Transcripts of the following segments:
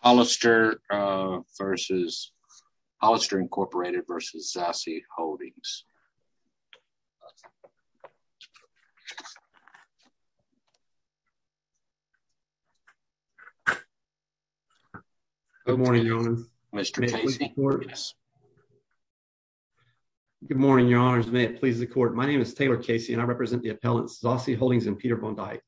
Hollister versus Hollister Incorporated versus Zassi Holdings. Good morning, Your Honor. May it please the court. Good morning, Your Honor. May it please the court. My name is Taylor Casey and I represent the appellants Zassi Holdings and Peter Bondi.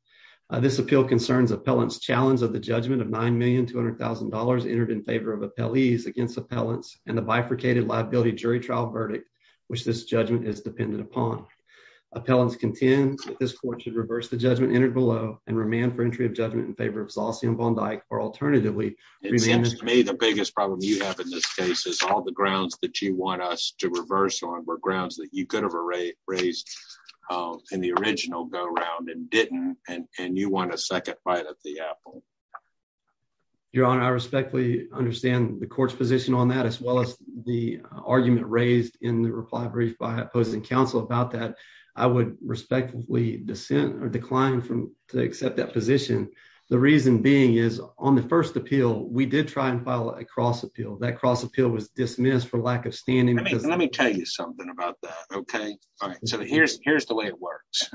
This appeal concerns appellants' challenge of judgment of $9,200,000 entered in favor of appellees against appellants and the bifurcated liability jury trial verdict which this judgment is dependent upon. Appellants contend that this court should reverse the judgment entered below and remand for entry of judgment in favor of Zassi and Bondi or alternatively... It seems to me the biggest problem you have in this case is all the grounds that you want us to reverse on were grounds that you could have erased in the original go around and didn't and you want a second bite of the apple. Your Honor, I respectfully understand the court's position on that as well as the argument raised in the reply brief by opposing counsel about that. I would respectfully dissent or decline to accept that position. The reason being is on the first appeal, we did try and file a cross appeal. That cross appeal was dismissed for lack of standing. Let me tell you something about that. Here's the way it works.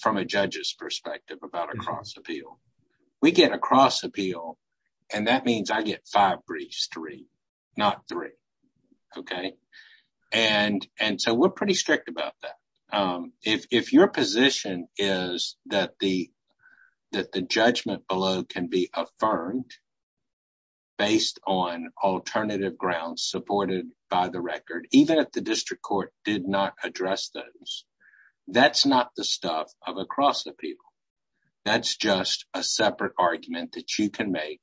From a judge's perspective about a cross appeal, we get a cross appeal and that means I get five briefs to read, not three. We're pretty strict about that. If your position is that the judgment below can be affirmed based on alternative grounds supported by the record, even if the district court did not address those, that's not the stuff of a cross appeal. That's just a separate argument that you can make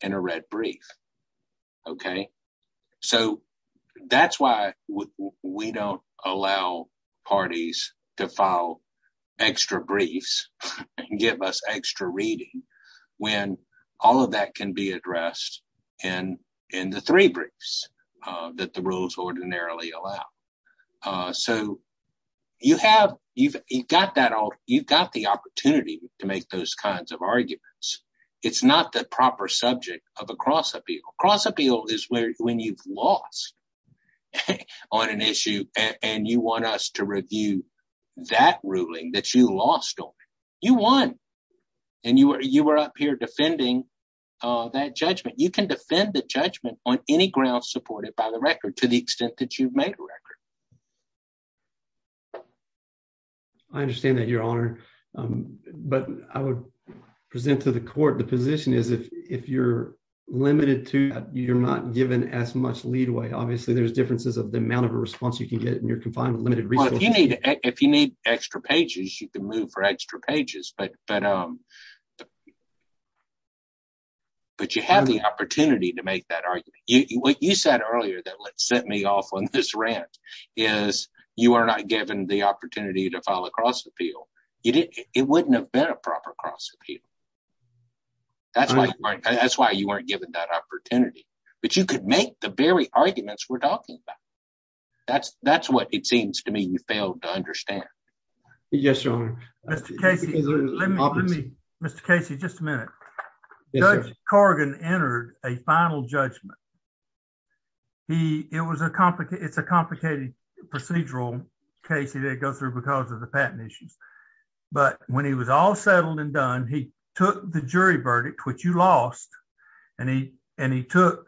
in a red brief. That's why we don't allow parties to file extra briefs and give us extra reading when all of that can be addressed in the three briefs that the rules ordinarily allow. You've got the opportunity to make those kinds of arguments. It's not the proper subject of a cross appeal. Cross appeal is when you've lost on an issue and you want us to review that ruling that you lost on it. You won and you were up here defending that judgment. You can defend the judgment on any ground supported by the record to the extent that you've made a record. I understand that, Your Honor, but I would present to the court the position is if you're limited to that, you're not given as much leadway obviously. There's differences of the amount of a response you can get when you're confined to limited resources. If you need extra pages, you can move for extra pages, but you have the opportunity to make that argument. What you said earlier that set me off on this rant is you are not given the opportunity to file a cross appeal. It wouldn't have been a proper cross appeal. That's why you weren't given that opportunity, but you could make the very arguments we're talking about. That's what it seems to me you failed to understand. Yes, Your Honor. Mr. Casey, just a minute. Judge Corrigan entered a final judgment. It's a complicated procedural case he didn't go through because of the patent issues, but when he was all settled and done, he took the jury verdict, which you lost, and he took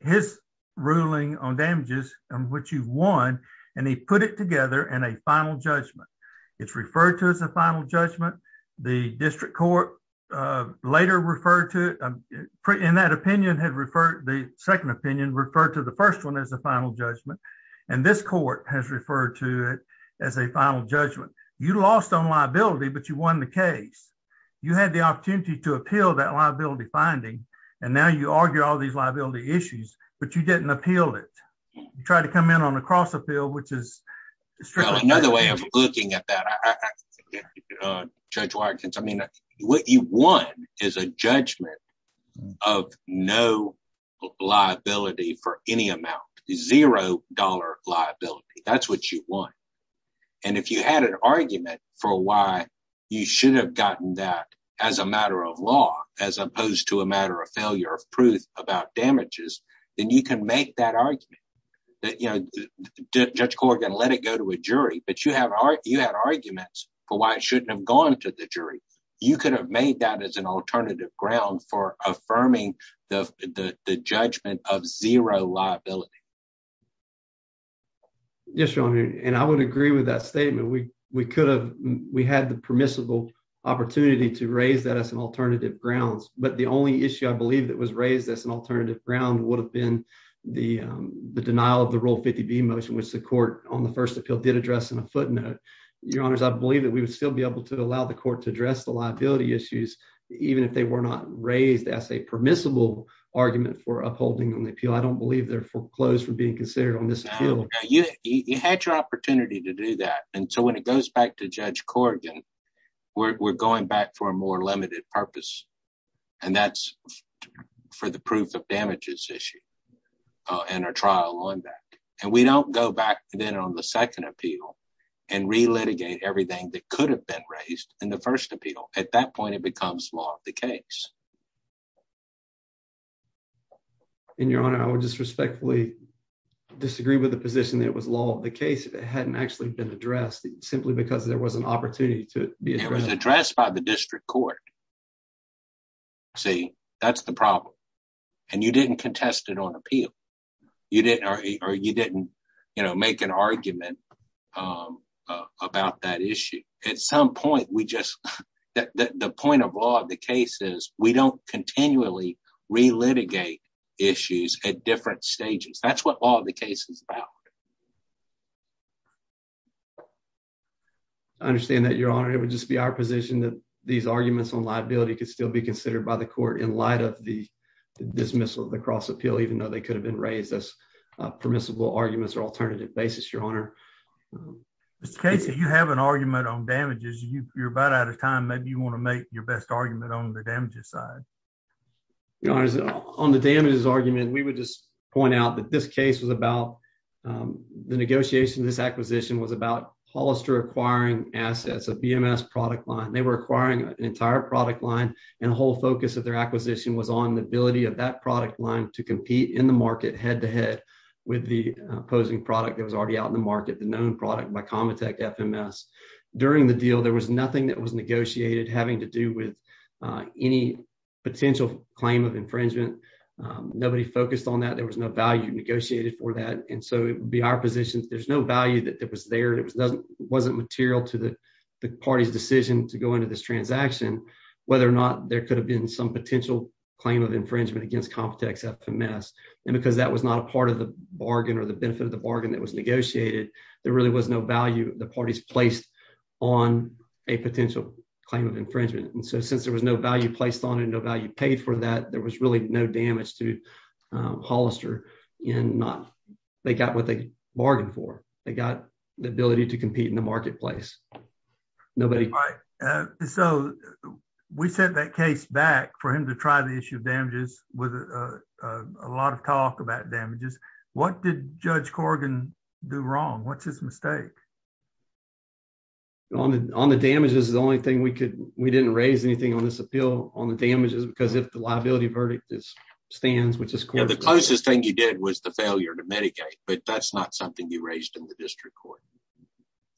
his ruling on damages, which you won, and he put it together in a final judgment. It's referred to as a final judgment. The district court later referred to it. In that opinion, the second opinion referred to the first one as a final judgment, and this court has liability, but you won the case. You had the opportunity to appeal that liability finding, and now you argue all these liability issues, but you didn't appeal it. You tried to come in on a cross appeal, which is another way of looking at that. Judge Wyerkins, what you won is a judgment of no liability for any amount, zero dollar liability. That's what you won, and if you had an argument for why you should have gotten that as a matter of law as opposed to a matter of failure of proof about damages, then you can make that argument. Judge Corrigan let it go to a jury, but you had arguments for why it shouldn't have gone to the jury. You could have made that as an alternative ground for affirming the judgment of zero liability. Yes, your honor, and I would agree with that statement. We could have. We had the permissible opportunity to raise that as an alternative grounds, but the only issue I believe that was raised as an alternative ground would have been the denial of the rule 50 B motion, which the court on the first appeal did address in a footnote. Your honors, I believe that we would still be able to allow the court to address the liability issues even if they were not raised as a permissible argument for upholding on the appeal. I don't believe their foreclosure being considered on this appeal. You had your opportunity to do that, and so when it goes back to Judge Corrigan, we're going back for a more limited purpose, and that's for the proof of damages issue and our trial on that, and we don't go back then on the second appeal and relitigate everything that could have been raised in the first appeal. At that point, it becomes law of the case. And your honor, I would just respectfully disagree with the position that it was law of the case if it hadn't actually been addressed simply because there was an opportunity to be addressed by the district court. See, that's the problem, and you didn't contest it on appeal. You didn't or you didn't, you know, make an argument about that issue. At some point, we just that the point of the case is we don't continually relitigate issues at different stages. That's what all the case is about. I understand that, your honor. It would just be our position that these arguments on liability could still be considered by the court in light of the dismissal of the cross appeal, even though they could have been raised as permissible arguments or alternative basis, your honor. Mr. Casey, you have an argument on damages. You're about out of time. Maybe you want to make your argument on the damages side. Your honor, on the damages argument, we would just point out that this case was about the negotiation. This acquisition was about Hollister acquiring assets, a BMS product line. They were acquiring an entire product line, and the whole focus of their acquisition was on the ability of that product line to compete in the market head-to-head with the opposing product that was already out in the market, the known product by Comitech FMS. During the deal, there was nothing that was negotiated having to do with any potential claim of infringement. Nobody focused on that. There was no value negotiated for that, and so it would be our position. There's no value that was there. It wasn't material to the party's decision to go into this transaction, whether or not there could have been some potential claim of infringement against Comitech FMS, and because that was not a part of the bargain or the benefit of the bargain that was negotiated, there really was no value the parties placed on a potential claim of infringement, and so since there was no value placed on it, no value paid for that, there was really no damage to Hollister. They got what they bargained for. They got the ability to compete in the marketplace. All right, so we sent that case back for him to try the issue of damages with a lot of talk about damages. What did Judge Corrigan do wrong? What's his mistake? On the damages, the only thing we could we didn't raise anything on this appeal on the damages because if the liability verdict is stands, which is the closest thing you did was the failure to medicate, but that's not something you raised in the district court.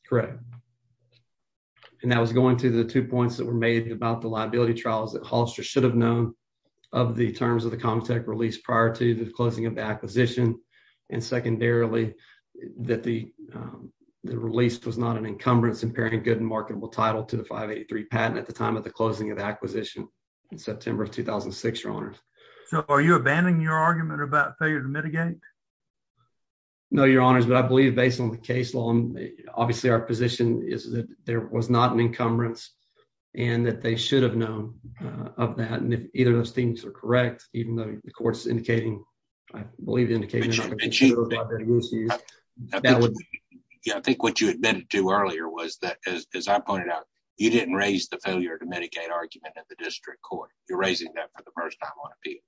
Correct, and that was going to the two points that were made about the liability trials that terms of the Comitech release prior to the closing of the acquisition, and secondarily, that the release was not an encumbrance in pairing good and marketable title to the 583 patent at the time of the closing of the acquisition in September of 2006, Your Honors. So are you abandoning your argument about failure to mitigate? No, Your Honors, but I believe based on the case law, obviously our position is that there was not an encumbrance and that they should have known of that. And if either of those things are correct, even though the court's indicating, I believe, indicating that she was. Yeah, I think what you admitted to earlier was that, as I pointed out, you didn't raise the failure to medicate argument at the district court. You're raising that for the first time on appeal,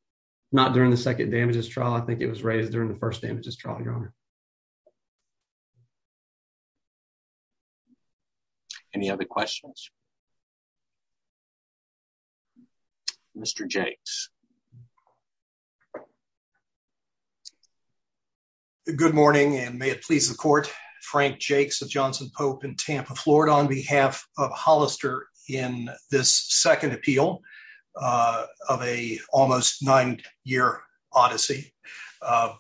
not during the second damages trial. I think it was raised during the first damages trial, Your Honor. Any other questions? Mr. Jakes. Good morning, and may it please the court. Frank Jakes of Johnson Pope in Tampa, Florida, on behalf of Hollister in this second appeal of a almost nine year odyssey. I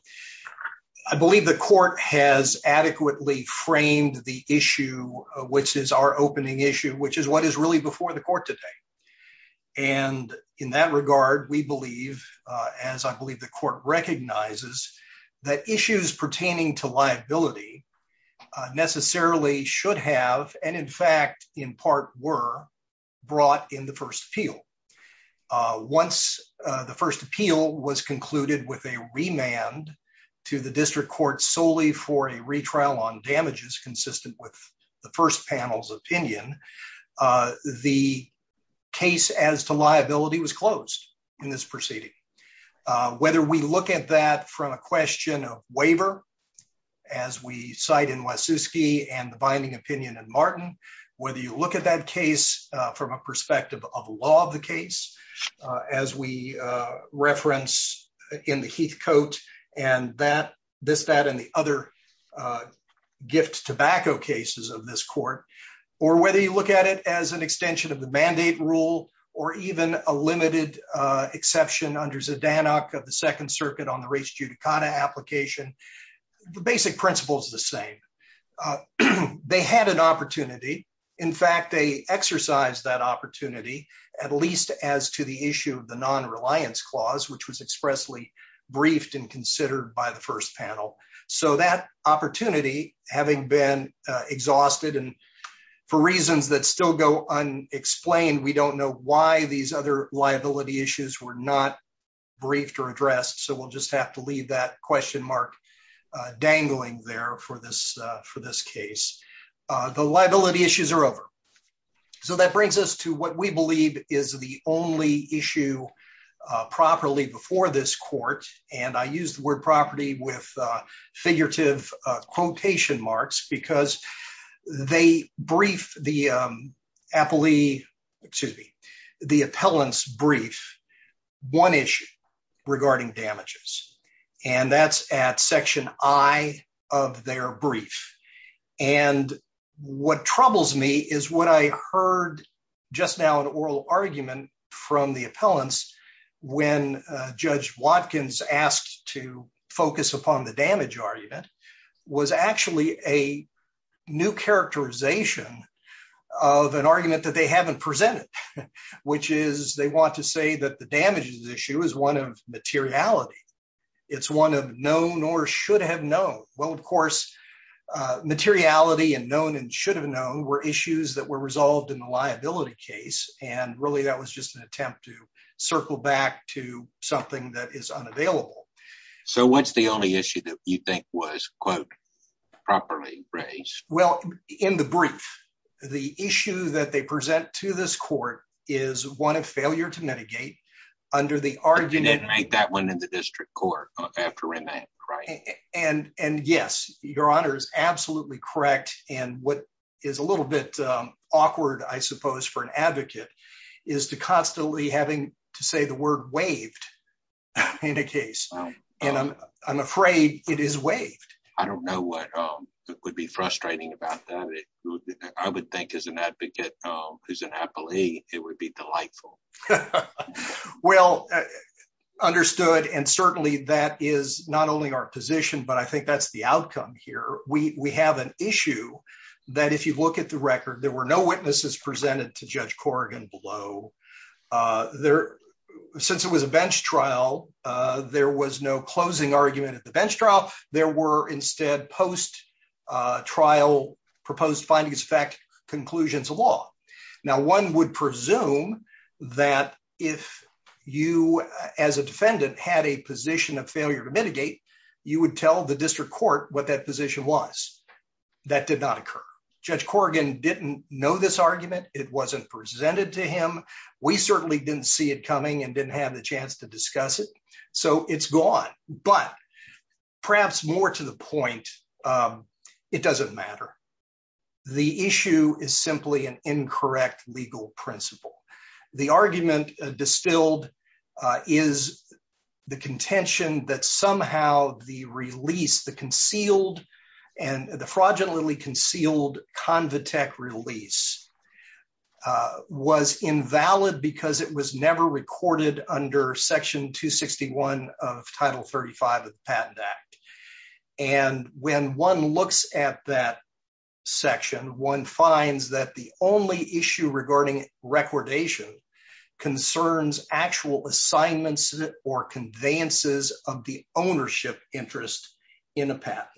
believe the court has adequately framed the issue, which is our opening issue, which is what is really before the court today. And in that regard, we believe, as I believe the court recognizes, that issues pertaining to liability necessarily should have, and in fact, in part were brought in the first appeal. Once the first appeal was concluded with a remand to the district court solely for a retrial on damages consistent with the first panel's opinion, the case as to liability was closed in this proceeding. Whether we look at that from a question of waiver, as we cite in Wasiewski and the binding opinion in Martin, whether you look at that case from a perspective of law of the case, as we reference in the Heath Coat and that, this, that, and the other gift tobacco cases of this court, or whether you look at it as an extension of the mandate rule, or even a limited exception under Zdanok of the Second Circuit on the res judicata application, the basic principle is the same. They had an opportunity. In fact, they exercised that opportunity, at least as to the issue of the non-reliance clause, which was expressly briefed and considered by the first panel. So that opportunity, having been exhausted and for reasons that still go unexplained, we don't know why these other liability issues were not briefed or addressed. So we'll just have to leave that question mark dangling there for this, for this case. The liability issues are over. So that brings us to what we believe is the only issue properly before this court. And I use the word property with figurative quotation marks, because they brief the appellee, excuse me, the appellant's brief, one issue regarding damages, and that's at section I of their brief. And what troubles me is what I heard just now, an oral argument from the appellants, when Judge Watkins asked to focus upon the damage argument, was actually a new characterization of an argument that they haven't presented, which is they want to say that the damages issue is one of materiality. It's one of known or should have known. Well, of course, materiality and known and should have known were issues that were resolved in the liability case. And really, that was just an attempt to was, quote, properly raised. Well, in the brief, the issue that they present to this court is one of failure to mitigate under the argument that went into district court after remand, right? And, and yes, Your Honor is absolutely correct. And what is a little bit awkward, I suppose, for an advocate is to constantly having to say the word waived in a case. And I'm afraid it is waived. I don't know what would be frustrating about that. I would think as an advocate, who's an appellee, it would be delightful. Well, understood. And certainly that is not only our position, but I think that's the outcome here. We have an issue that if you look at the record, there were no witnesses presented to Judge Corrigan below. There, since it was a bench trial, there was no closing argument at the bench trial. There were instead post-trial proposed findings, fact conclusions of law. Now, one would presume that if you, as a defendant, had a position of failure to mitigate, you would tell the district court what that position was. That did not occur. Judge Corrigan didn't know this argument. It wasn't presented to him. We certainly didn't see it coming and didn't have the chance to discuss it. So it's gone. But perhaps more to the point, it doesn't matter. The issue is simply an incorrect legal principle. The argument distilled is the contention that somehow the release, the concealed and the fraudulently concealed Convitec release was invalid because it was never recorded under Section 261 of Title 35 of the Patent Act. And when one looks at that section, one finds that the only issue regarding recordation concerns actual assignments or conveyances of the ownership interest in a patent.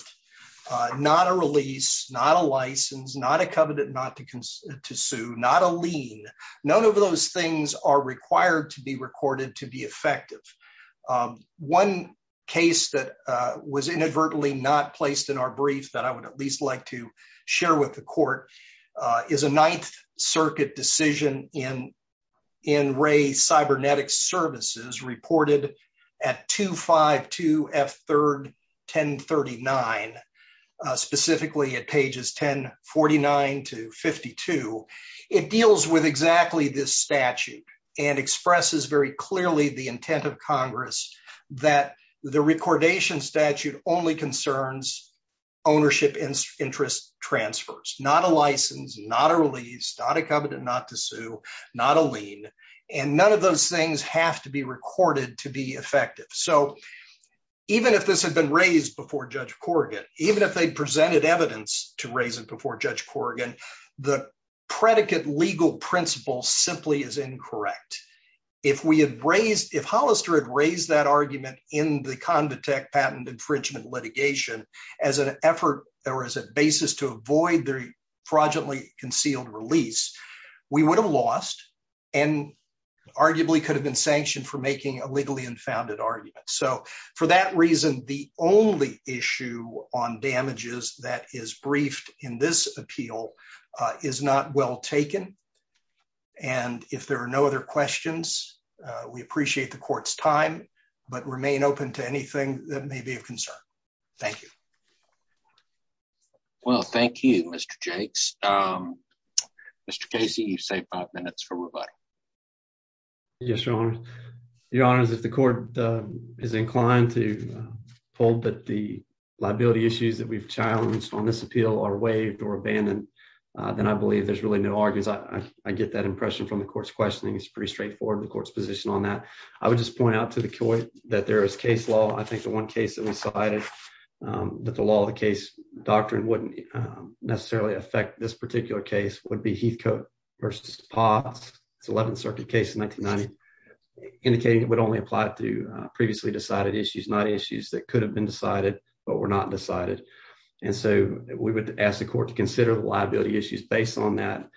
Not a release, not a license, not a covenant not to sue, not a lien. None of those things are required to be recorded to be effective. One case that was inadvertently not placed in our brief that I would at least like to share with the court is a Ninth Circuit decision in Ray Cybernetics Services reported at 252 F. 3rd 1039, specifically at pages 1049 to 52. It deals with exactly this statute and expresses very clearly the intent of Congress that the recordation statute only concerns ownership interest transfers. Not a license, not a release, not a covenant not to sue, not a lien, and none of those things have to be recorded to be effective. So even if this had been raised before Judge Corrigan, even if they presented evidence to raise it before Judge Corrigan, the predicate legal principle simply is incorrect. If we had raised, if Hollister had raised that argument in the Convitec patent infringement litigation as an effort or as a basis to avoid the fraudulently concealed release, we would have lost and arguably could have been sanctioned for making a legally unfounded argument. So for that reason, the only issue on damages that is briefed in this appeal is not well taken. And if there are no other questions, we appreciate the court's time, but remain open to anything that may be of concern. Thank you. Well, thank you, Mr. Jakes. Mr. Casey, you've saved five minutes for rebuttal. Yes, Your Honor. Your Honor, if the court is inclined to hold that the liability issues that we've challenged on this appeal are waived or abandoned, then I believe there's really no arguments. I get that impression from the court's questioning. It's pretty straightforward. The that there is case law. I think the one case that we cited that the law of the case doctrine wouldn't necessarily affect this particular case would be Heathcote versus Potts. It's 11th Circuit case in 1990, indicating it would only apply to previously decided issues, not issues that could have been decided but were not decided. And so we would ask the court to consider the liability issues based on that.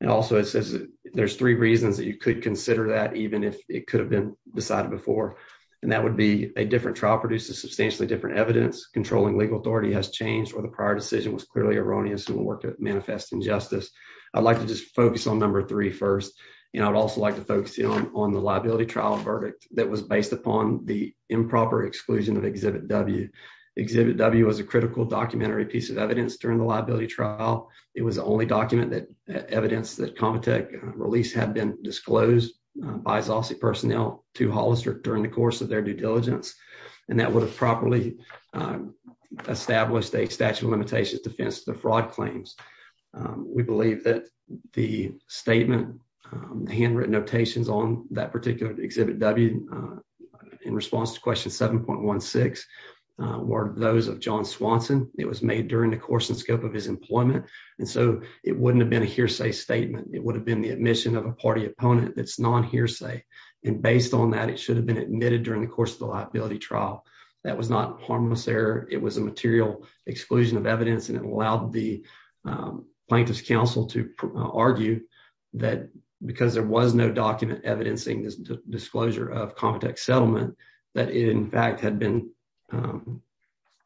And also it says there's three reasons that you could consider that even if it could have been decided before. And that would be a different trial produces substantially different evidence. Controlling legal authority has changed or the prior decision was clearly erroneous and will work to manifest injustice. I'd like to just focus on number three first. And I'd also like to focus on the liability trial verdict that was based upon the improper exclusion of Exhibit W. Exhibit W was a critical documentary piece of evidence during the liability trial. It was the only document that evidence that Comitech released had been disclosed by Zossi personnel to Hollister during the course of their due diligence. And that would have properly established a statute of limitations defense to the fraud claims. We believe that the statement, the handwritten notations on that particular Exhibit W in response to question 7.16 were those of John Swanson. It was made during the course and scope of his employment. And so it wouldn't have been a hearsay statement. It would have been the admission of a party opponent that's non hearsay. And based on that, it should have been admitted during the course of the liability trial. That was not harmless error. It was a material exclusion of evidence. And it allowed the plaintiff's counsel to argue that because there was no document evidencing this disclosure of Comitech settlement, that it in fact had been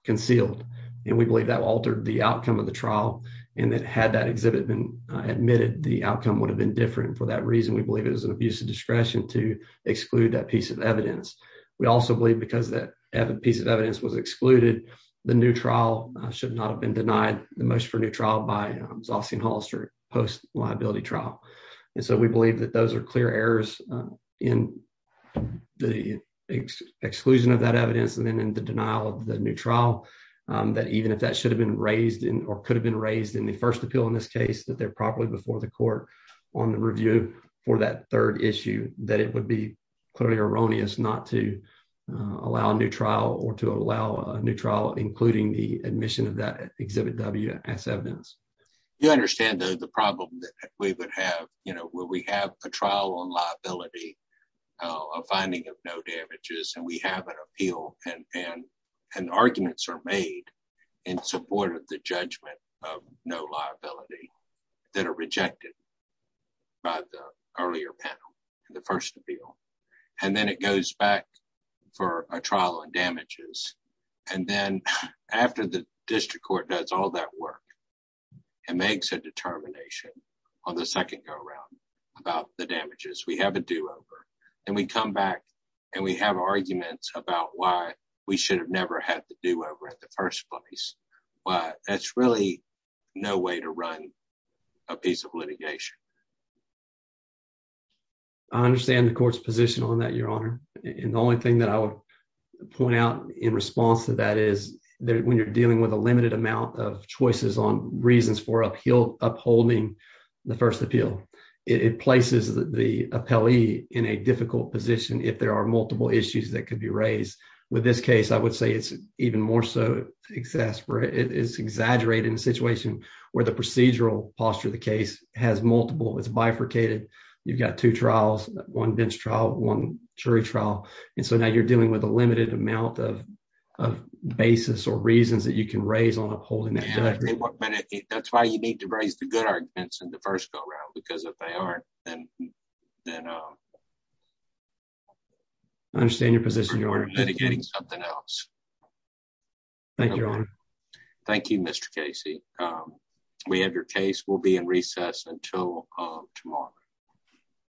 concealed. And we believe that altered the outcome of the trial. And that had that exhibit been admitted, the outcome would have been different. For that reason, we believe it is an abuse of discretion to exclude that piece of evidence. We also believe because that piece of evidence was excluded, the new trial should not have been denied the most for new trial by Zossi and Hollister post liability trial. And so we believe that those are clear errors in the exclusion of that evidence and then in the denial of the new trial, that even if that should have been raised in or could have been raised in the first appeal, in this case, that they're properly before the court on the review for that third issue, that it would be clearly erroneous not to allow a new trial or to allow a new trial, including the admission of that exhibit W as evidence. You understand the problem that we would have, you know, where we have a trial on liability, a finding of no damages, and we have an appeal and arguments are made in support of the judgment of no liability that are rejected by the earlier panel, the first appeal, and then it goes back for a trial on damages. And then after the district court does all that work, and makes a determination on the second go around about the damages, we have a do over, and we come back, and we have arguments about why we should have never had to do over at the first place. But that's really no way to run a piece of litigation. I understand the court's position on that, Your Honor. And the only thing that I would point out in response to that is that when you're dealing with a limited amount of choices on reasons for upholding the first appeal, it places the appellee in a difficult position if there are multiple issues that could be raised. With this case, I would say it's even more so exasperated. It's exaggerated in a situation where the procedural posture of the case has multiple, it's bifurcated. You've got two trials, one bench trial, one jury trial, and so now you're dealing with a limited amount of basis or reasons that you can raise on upholding that judgment. That's why you need to raise the good arguments in the first go around, because if they aren't, then... I understand your position, Your Honor. ...something else. Thank you, Your Honor. Thank you, Mr. Casey. We have your case. We'll be in recess until tomorrow.